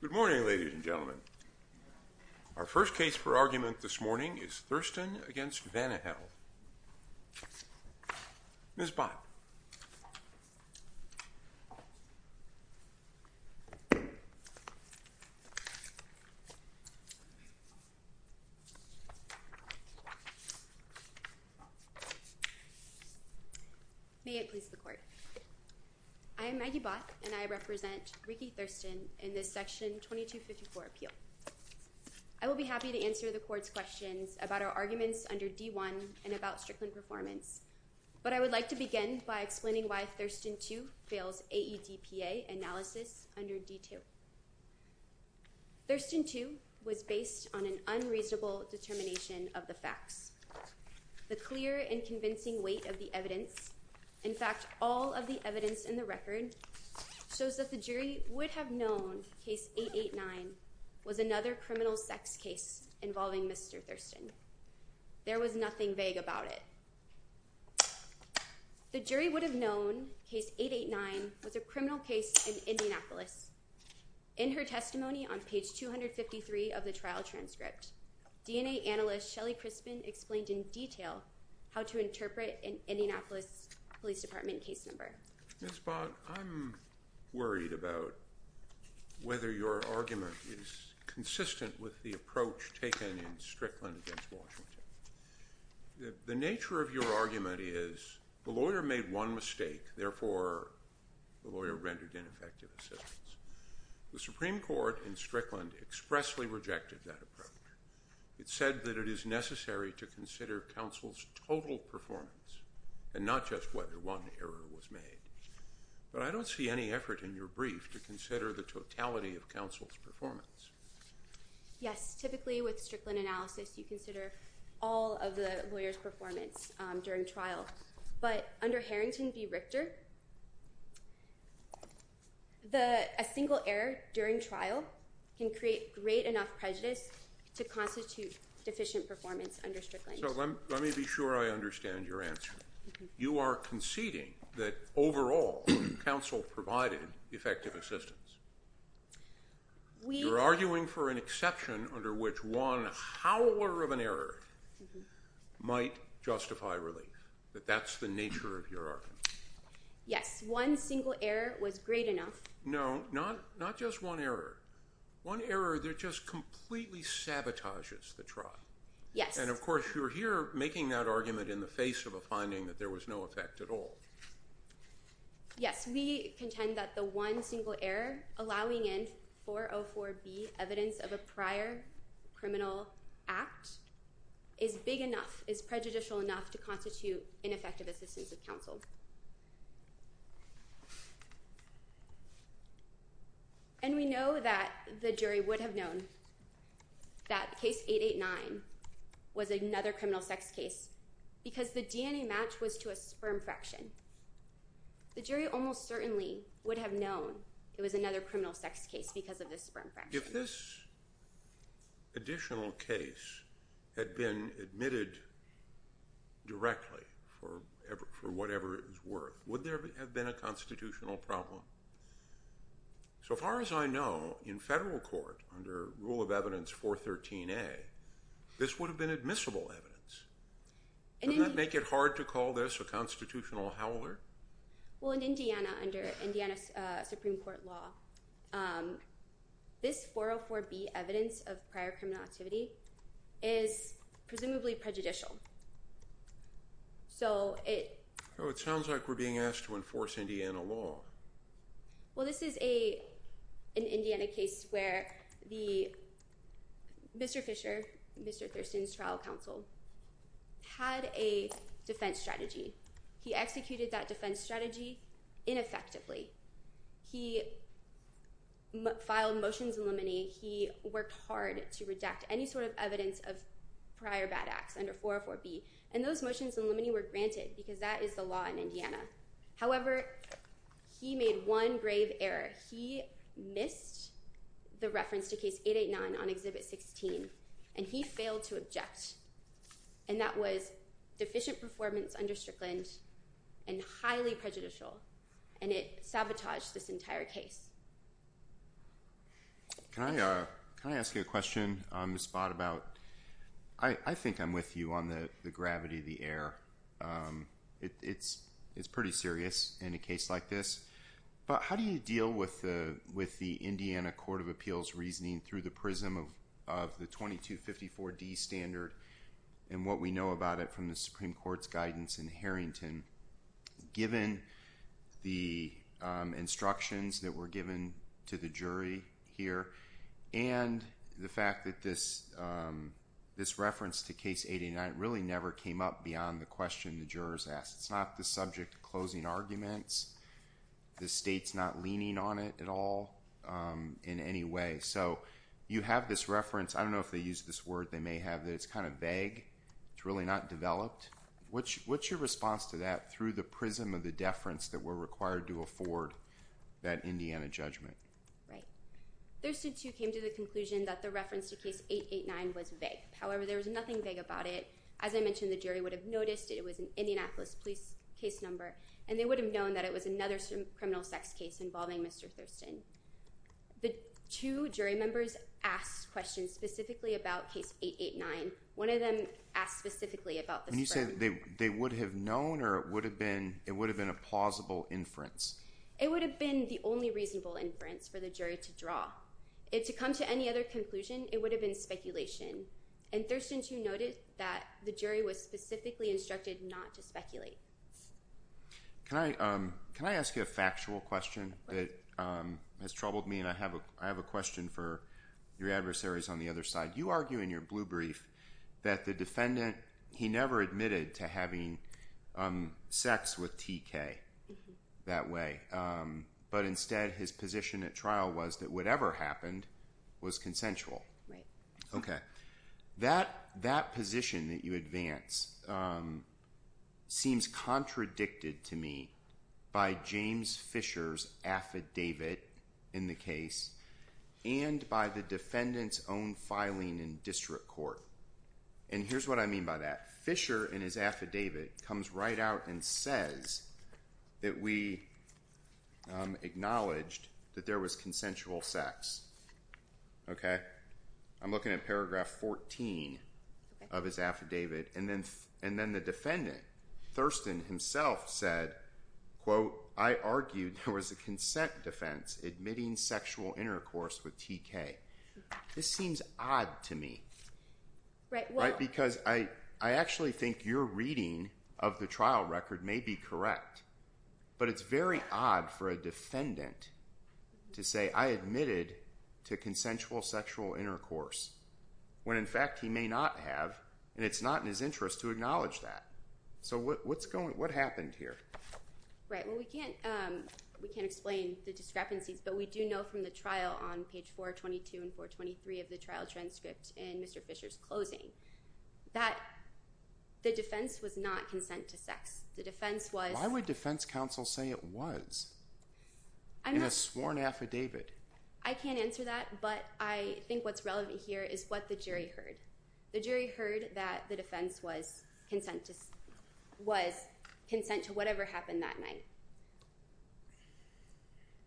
Good morning, ladies and gentlemen. Our first case for argument this morning is Thurston v. Vanihel. Ms. Bott. May it please the court. I am Maggie Bott and I represent Ricky Thurston in this section 2254 appeal. I will be happy to answer the court's questions about our arguments under D1 and about Strickland performance, but I would like to begin by explaining why Thurston 2 fails AEDPA analysis under D2. Thurston 2 was based on an unreasonable determination of the facts. The clear and convincing weight of the evidence, in fact, all of the evidence in the record shows that the jury would have known case 889 was another criminal sex case involving Mr. Thurston. There was nothing vague about it. The jury would have known case 889 was a criminal case in Indianapolis. In her testimony on page 253 of the trial transcript, DNA analyst Shelly Crispin explained in detail how to interpret an Indianapolis Police Department case number. Ms. Bott, I'm worried about whether your argument is consistent with the approach taken in Strickland against Washington. The nature of your argument is the lawyer made one mistake, therefore the lawyer rendered ineffective assistance. The Supreme Court in Strickland expressly rejected that approach. It said that it is necessary to consider counsel's total performance and not just whether one error was made. But I don't see any effort in your brief to consider the totality of counsel's performance. Yes, typically with Strickland analysis you consider all of the lawyer's performance during trial. But under Harrington v. Richter, a single error during trial can create great enough prejudice to constitute deficient performance under Strickland. So let me be sure I understand your answer. You are conceding that overall counsel provided effective assistance. You're arguing for an exception under which one howler of an error might justify relief. That that's the nature of your argument. Yes, one single error was great enough. No, not just one error. One error that just completely sabotages the trial. Yes. And of course you're here making that argument in the face of a finding that there was no effect at all. Yes, we contend that the one single error allowing in 404B evidence of a prior criminal act is big enough, is prejudicial enough to constitute ineffective assistance of counsel. And we know that the jury would have known that case 889 was another criminal sex case because the DNA match was to a sperm fraction. The jury almost certainly would have known it was another criminal sex case because of the sperm fraction. If this additional case had been admitted directly for whatever it was worth, would there have been a constitutional problem? So far as I know, in federal court under rule of evidence 413A, this would have been admissible evidence. Doesn't that make it hard to call this a constitutional howler? Well, in Indiana, under Indiana Supreme Court law, this 404B evidence of prior criminal activity is presumably prejudicial. It sounds like we're being asked to enforce Indiana law. Well, this is an Indiana case where Mr. Fisher, Mr. Thurston's trial counsel, had a defense strategy. He executed that defense strategy ineffectively. He filed motions in limine. He worked hard to redact any sort of evidence of prior bad acts under 404B, and those motions in limine were granted because that is the law in Indiana. However, he made one grave error. He missed the reference to case 889 on exhibit 16, and he failed to object, and that was deficient performance under Strickland and highly prejudicial, and it sabotaged this entire case. Can I ask you a question on the spot about, I think I'm with you on the gravity of the error. It's pretty serious in a case like this, but how do you deal with the Indiana Court of Appeals reasoning through the prism of the 2254D standard and what we know about it from the Supreme Court's guidance in Harrington, given the instructions that were given to the jury here and the fact that this reference to case 889 really never came up beyond the question the jurors asked. It's not the subject of closing arguments. The state's not leaning on it at all in any way. So you have this reference. I don't know if they use this word. They may have it. It's kind of vague. It's really not developed. What's your response to that through the prism of the deference that we're required to afford that Indiana judgment? Right. Thurston, too, came to the conclusion that the reference to case 889 was vague. However, there was nothing vague about it. As I mentioned, the jury would have noticed it was an Indianapolis police case number, and they would have known that it was another criminal sex case involving Mr. Thurston. The two jury members asked questions specifically about case 889. One of them asked specifically about the sperm. When you say they would have known or it would have been a plausible inference? It would have been the only reasonable inference for the jury to draw. To come to any other conclusion, it would have been speculation. And Thurston, too, noted that the jury was specifically instructed not to speculate. Can I ask you a factual question that has troubled me? I have a question for your adversaries on the other side. You argue in your blue brief that the defendant, he never admitted to having sex with TK that way. But instead, his position at trial was that whatever happened was consensual. Right. Okay. That position that you advance seems contradicted to me by James Fisher's affidavit in the case and by the defendant's own filing in district court. And here's what I mean by that. Fisher, in his affidavit, comes right out and says that we acknowledged that there was consensual sex. Okay. I'm looking at paragraph 14 of his affidavit. And then the defendant, Thurston himself, said, quote, I argued there was a consent defense admitting sexual intercourse with TK. This seems odd to me. Right. Because I actually think your reading of the trial record may be correct. But it's very odd for a defendant to say I admitted to consensual sexual intercourse when, in fact, he may not have, and it's not in his interest to acknowledge that. So what happened here? Right. Well, we can't explain the discrepancies, but we do know from the trial on page 422 and 423 of the trial transcript in Mr. Fisher's closing that the defense was not consent to sex. The defense was Why would defense counsel say it was in a sworn affidavit? I can't answer that, but I think what's relevant here is what the jury heard. The jury heard that the defense was consent to whatever happened that night.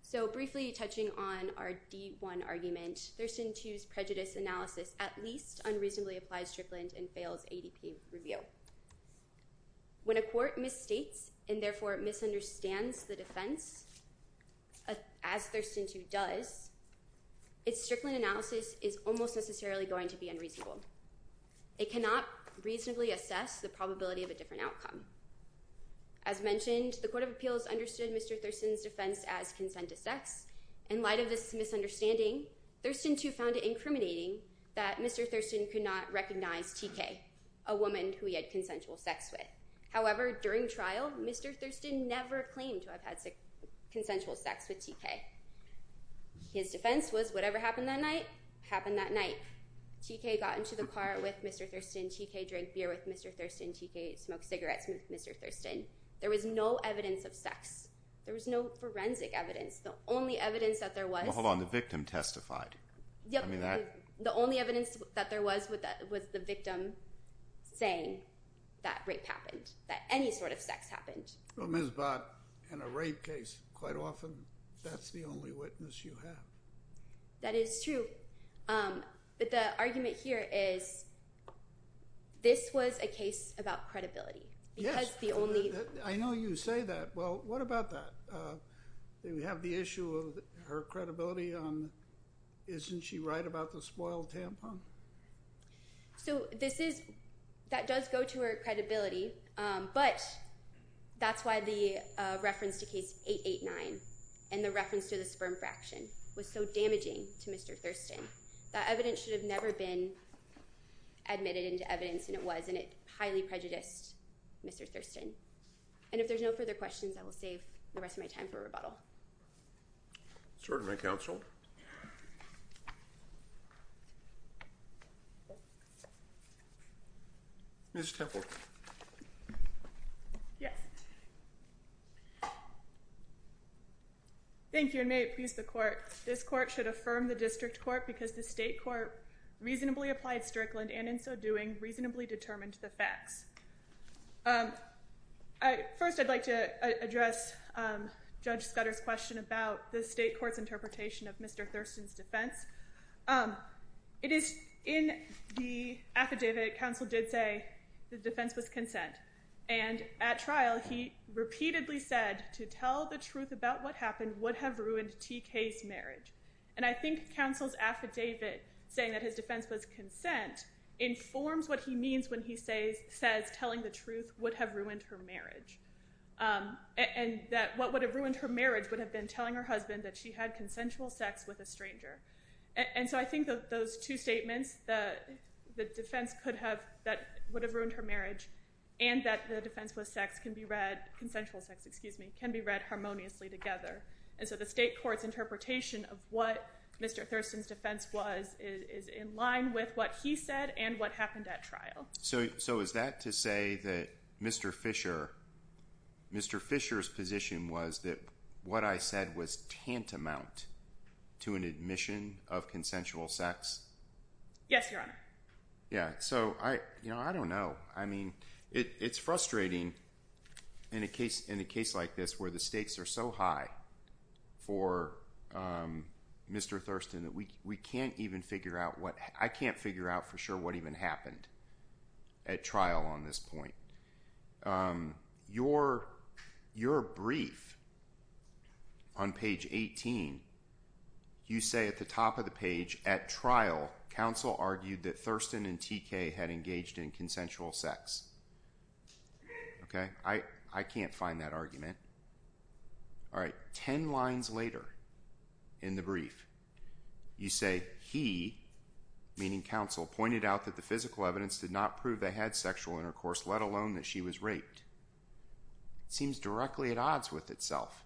So briefly touching on our D1 argument, Thurston 2's prejudice analysis at least unreasonably applies to Tripland and fails ADP review. When a court misstates and therefore misunderstands the defense, as Thurston 2 does, its Strickland analysis is almost necessarily going to be unreasonable. It cannot reasonably assess the probability of a different outcome. As mentioned, the Court of Appeals understood Mr. Thurston's defense as consent to sex. In light of this misunderstanding, Thurston 2 found it incriminating that Mr. Thurston could not recognize TK, a woman who he had consensual sex with. However, during trial, Mr. Thurston never claimed to have had consensual sex with TK. His defense was whatever happened that night, happened that night. TK got into the car with Mr. Thurston. TK drank beer with Mr. Thurston. TK smoked cigarettes with Mr. Thurston. There was no evidence of sex. There was no forensic evidence. The only evidence that there was... Well, hold on. The victim testified. The only evidence that there was was the victim saying that rape happened, that any sort of sex happened. Well, Ms. Bott, in a rape case, quite often that's the only witness you have. That is true. But the argument here is this was a case about credibility. Yes. I know you say that. Well, what about that? Do we have the issue of her credibility? Isn't she right about the spoiled tampon? So that does go to her credibility, but that's why the reference to Case 889 and the reference to the sperm fraction was so damaging to Mr. Thurston. That evidence should have never been admitted into evidence, and it was, and it highly prejudiced Mr. Thurston. And if there's no further questions, I will save the rest of my time for rebuttal. Certainly, Counsel. Ms. Templer. Yes. Thank you, and may it please the Court. This Court should affirm the District Court because the State Court reasonably applied Strickland and in so doing reasonably determined the facts. First, I'd like to address Judge Scudder's question about the State Court's interpretation of Mr. Thurston's defense. It is in the affidavit Counsel did say the defense was consent, and at trial he repeatedly said to tell the truth about what happened would have ruined T.K.'s marriage. And I think Counsel's affidavit saying that his defense was consent informs what he means when he says telling the truth would have ruined her marriage, and that what would have ruined her marriage would have been telling her husband that she had consensual sex with a stranger. And so I think those two statements, the defense could have, that would have ruined her marriage, and that the defense was sex can be read, consensual sex, excuse me, can be read harmoniously together. And so the State Court's interpretation of what Mr. Thurston's defense was is in line with what he said and what happened at trial. So is that to say that Mr. Fisher, Mr. Fisher's position was that what I said was tantamount to an admission of consensual sex? Yes, Your Honor. Yeah, so I don't know. I mean, it's frustrating in a case like this where the stakes are so high for Mr. Thurston that we can't even figure out what, I can't figure out for sure what even happened at trial on this point. Your brief on page 18, you say at the top of the page, at trial, counsel argued that Thurston and TK had engaged in consensual sex. Okay, I can't find that argument. All right, ten lines later in the brief, you say he, meaning counsel, pointed out that the physical evidence did not prove they had sexual intercourse, let alone that she was raped. It seems directly at odds with itself.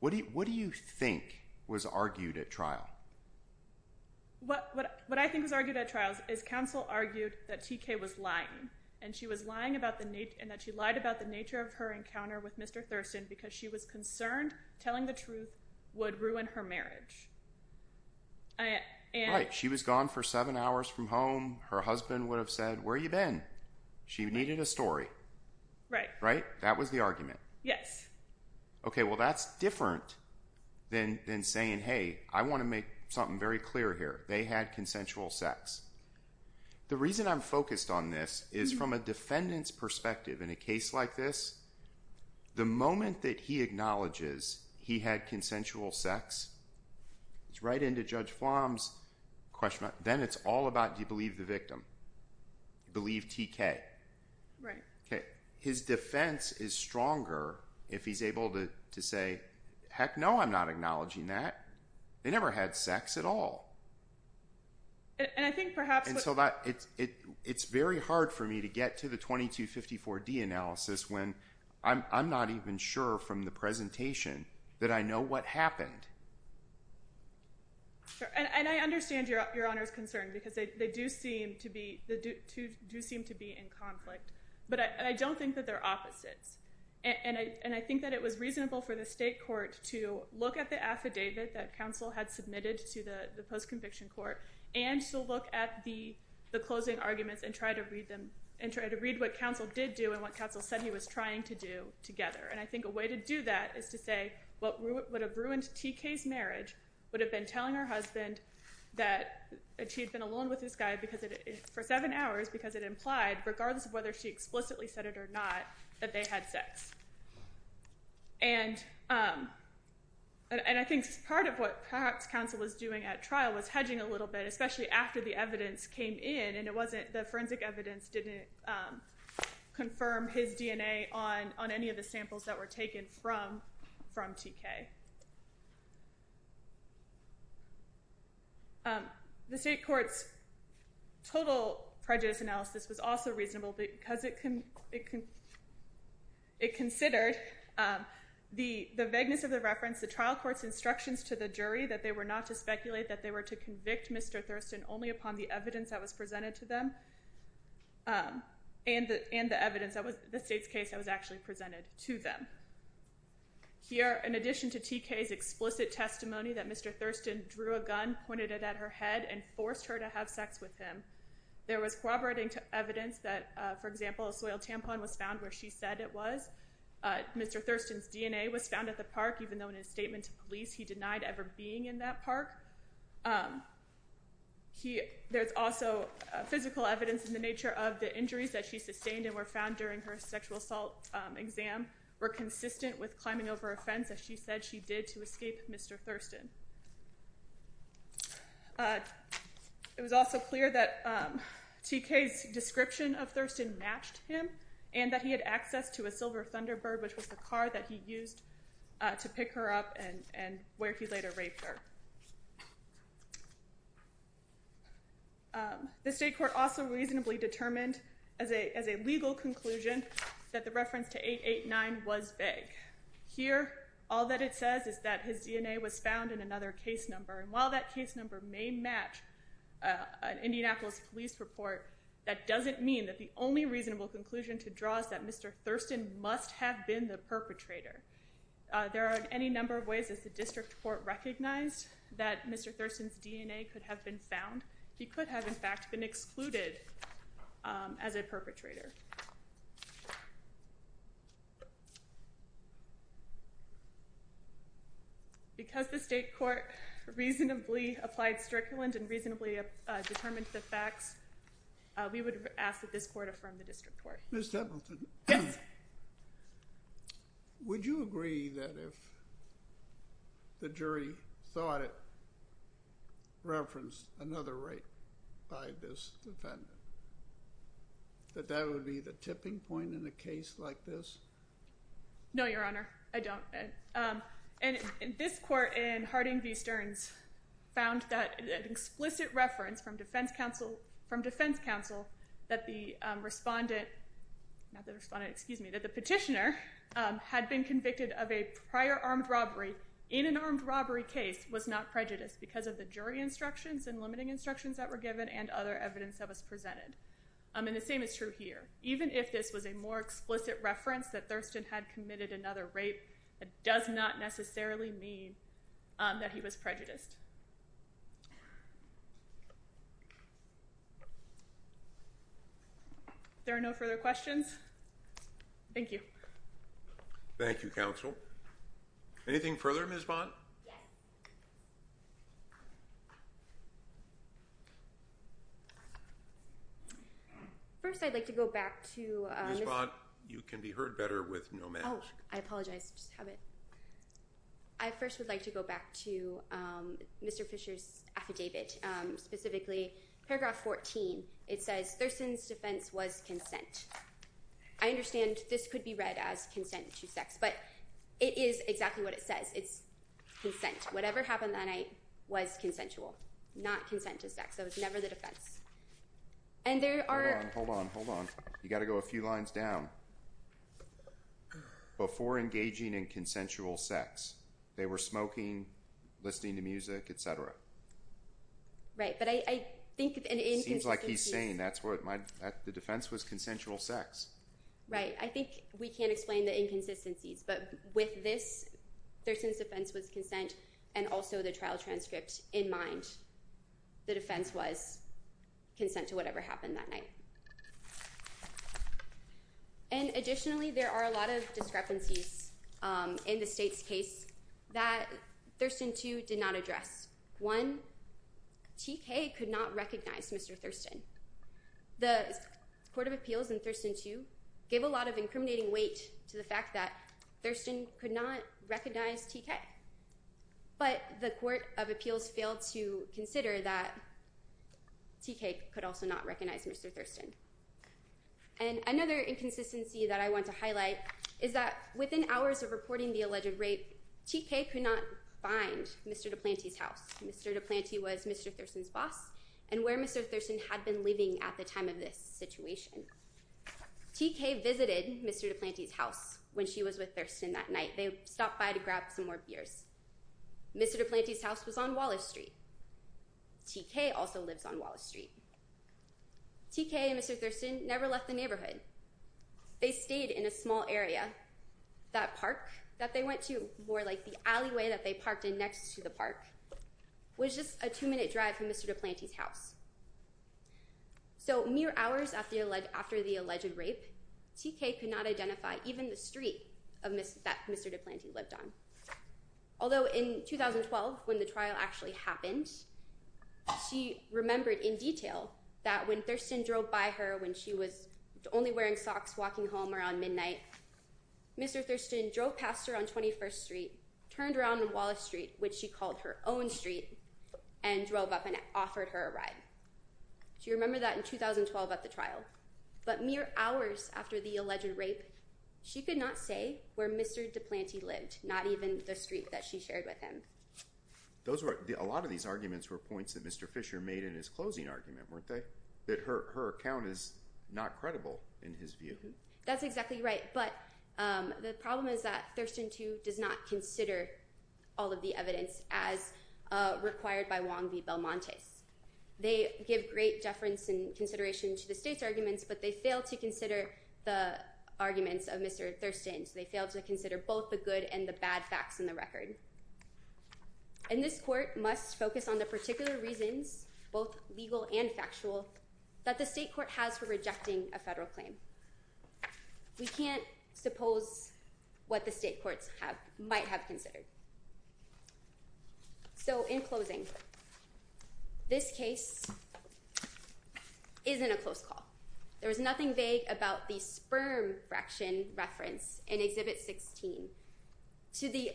What do you think was argued at trial? What I think was argued at trial is counsel argued that TK was lying, and that she lied about the nature of her encounter with Mr. Thurston because she was concerned telling the truth would ruin her marriage. Right, she was gone for seven hours from home. Her husband would have said, where have you been? She needed a story. Right. That was the argument. Yes. Okay, well that's different than saying, hey, I want to make something very clear here. They had consensual sex. The reason I'm focused on this is from a defendant's perspective in a case like this, the moment that he acknowledges he had consensual sex, it's right into Judge Flom's question. Then it's all about, do you believe the victim? Do you believe TK? Right. His defense is stronger if he's able to say, heck no, I'm not acknowledging that. They never had sex at all. And I think perhaps what… It's very hard for me to get to the 2254D analysis when I'm not even sure from the presentation that I know what happened. And I understand Your Honor's concern because they do seem to be in conflict. But I don't think that they're opposites. And I think that it was reasonable for the state court to look at the affidavit that counsel had submitted to the post-conviction court and to look at the closing arguments and try to read what counsel did do and what counsel said he was trying to do together. And I think a way to do that is to say what would have ruined TK's marriage would have been telling her husband that she had been alone with this guy for seven hours because it implied, regardless of whether she explicitly said it or not, that they had sex. And I think part of what perhaps counsel was doing at trial was hedging a little bit, especially after the evidence came in and the forensic evidence didn't confirm his DNA on any of the samples that were taken from TK. The state court's total prejudice analysis was also reasonable because it considered the vagueness of the reference, the trial court's instructions to the jury that they were not to speculate, that they were to convict Mr. Thurston only upon the evidence that was presented to them and the evidence, the state's case that was actually presented to them. Here, in addition to TK's explicit testimony that Mr. Thurston drew a gun, pointed it at her head, and forced her to have sex with him, there was corroborating evidence that, for example, a soil tampon was found where she said it was. Mr. Thurston's DNA was found at the park, even though in his statement to police he denied ever being in that park. There's also physical evidence in the nature of the injuries that she sustained and were found during her sexual assault exam were consistent with climbing over a fence, as she said she did to escape Mr. Thurston. It was also clear that TK's description of Thurston matched him and that he had access to a silver Thunderbird, which was the car that he used to pick her up and where he later raped her. The state court also reasonably determined as a legal conclusion that the reference to 889 was vague. Here, all that it says is that his DNA was found in another case number, and while that case number may match an Indianapolis police report, that doesn't mean that the only reasonable conclusion to draw is that Mr. Thurston must have been the perpetrator. There are any number of ways that the district court recognized that Mr. Thurston's DNA could have been found. He could have, in fact, been excluded as a perpetrator. Because the state court reasonably applied strictly and reasonably determined the facts, we would ask that this court affirm the district court. Ms. Templeton? Yes. Would you agree that if the jury thought it referenced another rape by this defendant, that that would be the tipping point in a case like this? No, Your Honor, I don't. And this court in Harding v. Stearns found that an explicit reference from defense counsel that the petitioner had been convicted of a prior armed robbery in an armed robbery case was not prejudiced because of the jury instructions and limiting instructions that were given and other evidence that was presented. And the same is true here. Even if this was a more explicit reference that Thurston had committed another rape, it does not necessarily mean that he was prejudiced. If there are no further questions, thank you. Thank you, counsel. Anything further, Ms. Vaught? Yes. First, I'd like to go back to... Ms. Vaught, you can be heard better with no mask. Oh, I apologize. I just have it. I first would like to go back to Mr. Fisher's affidavit, specifically paragraph 14. It says, Thurston's defense was consent. I understand this could be read as consent to sex, but it is exactly what it says. It's consent. Whatever happened that night was consensual, not consent to sex. That was never the defense. And there are... Hold on, hold on, hold on. You've got to go a few lines down. Before engaging in consensual sex, they were smoking, listening to music, etc. Right, but I think... It seems like he's saying that the defense was consensual sex. Right, I think we can't explain the inconsistencies, but with this, Thurston's defense was consent, and also the trial transcript in mind, the defense was consent to whatever happened that night. And additionally, there are a lot of discrepancies in the state's case that Thurston, too, did not address. One, T.K. could not recognize Mr. Thurston. The Court of Appeals in Thurston, too, gave a lot of incriminating weight to the fact that Thurston could not recognize T.K. But the Court of Appeals failed to consider that T.K. could also not recognize Mr. Thurston. And another inconsistency that I want to highlight is that within hours of reporting the alleged rape, T.K. could not find Mr. DePlante's house. Mr. DePlante was Mr. Thurston's boss, and where Mr. Thurston had been living at the time of this situation. T.K. visited Mr. DePlante's house when she was with Thurston that night. They stopped by to grab some more beers. Mr. DePlante's house was on Wallace Street. T.K. also lives on Wallace Street. T.K. and Mr. Thurston never left the neighborhood. They stayed in a small area. That park that they went to, more like the alleyway that they parked in next to the park, was just a two-minute drive from Mr. DePlante's house. So mere hours after the alleged rape, T.K. could not identify even the street that Mr. DePlante lived on. Although in 2012, when the trial actually happened, she remembered in detail that when Thurston drove by her when she was only wearing socks walking home around midnight, Mr. Thurston drove past her on 21st Street, turned around on Wallace Street, which she called her own street, and drove up and offered her a ride. She remembered that in 2012 at the trial. But mere hours after the alleged rape, she could not say where Mr. DePlante lived, not even the street that she shared with him. A lot of these arguments were points that Mr. Fisher made in his closing argument, weren't they? That her account is not credible in his view. That's exactly right. But the problem is that Thurston, too, does not consider all of the evidence as required by Wong v. Belmontes. They give great deference and consideration to the state's arguments, but they fail to consider the arguments of Mr. Thurston. They fail to consider both the good and the bad facts in the record. And this court must focus on the particular reasons, both legal and factual, that the state court has for rejecting a federal claim. We can't suppose what the state courts might have considered. So, in closing, this case isn't a close call. There was nothing vague about the sperm fraction reference in Exhibit 16 to the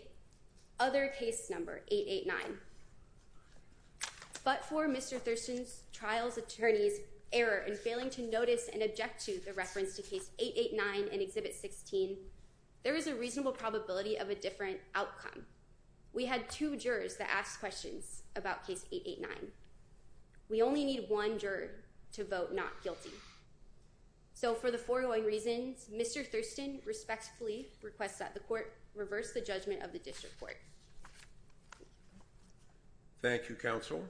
other case number, 889. But for Mr. Thurston's trial's attorney's error in failing to notice and object to the reference to case 889 in Exhibit 16, there is a reasonable probability of a different outcome. We had two jurors that asked questions about case 889. We only need one juror to vote not guilty. So, for the foregoing reasons, Mr. Thurston respectfully requests that the court reverse the judgment of the district court. Thank you, counsel.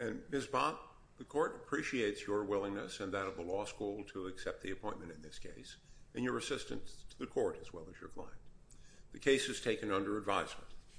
And Ms. Bob, the court appreciates your willingness and that of the law school to accept the appointment in this case, and your assistance to the court as well as your client. The case is taken under advisement.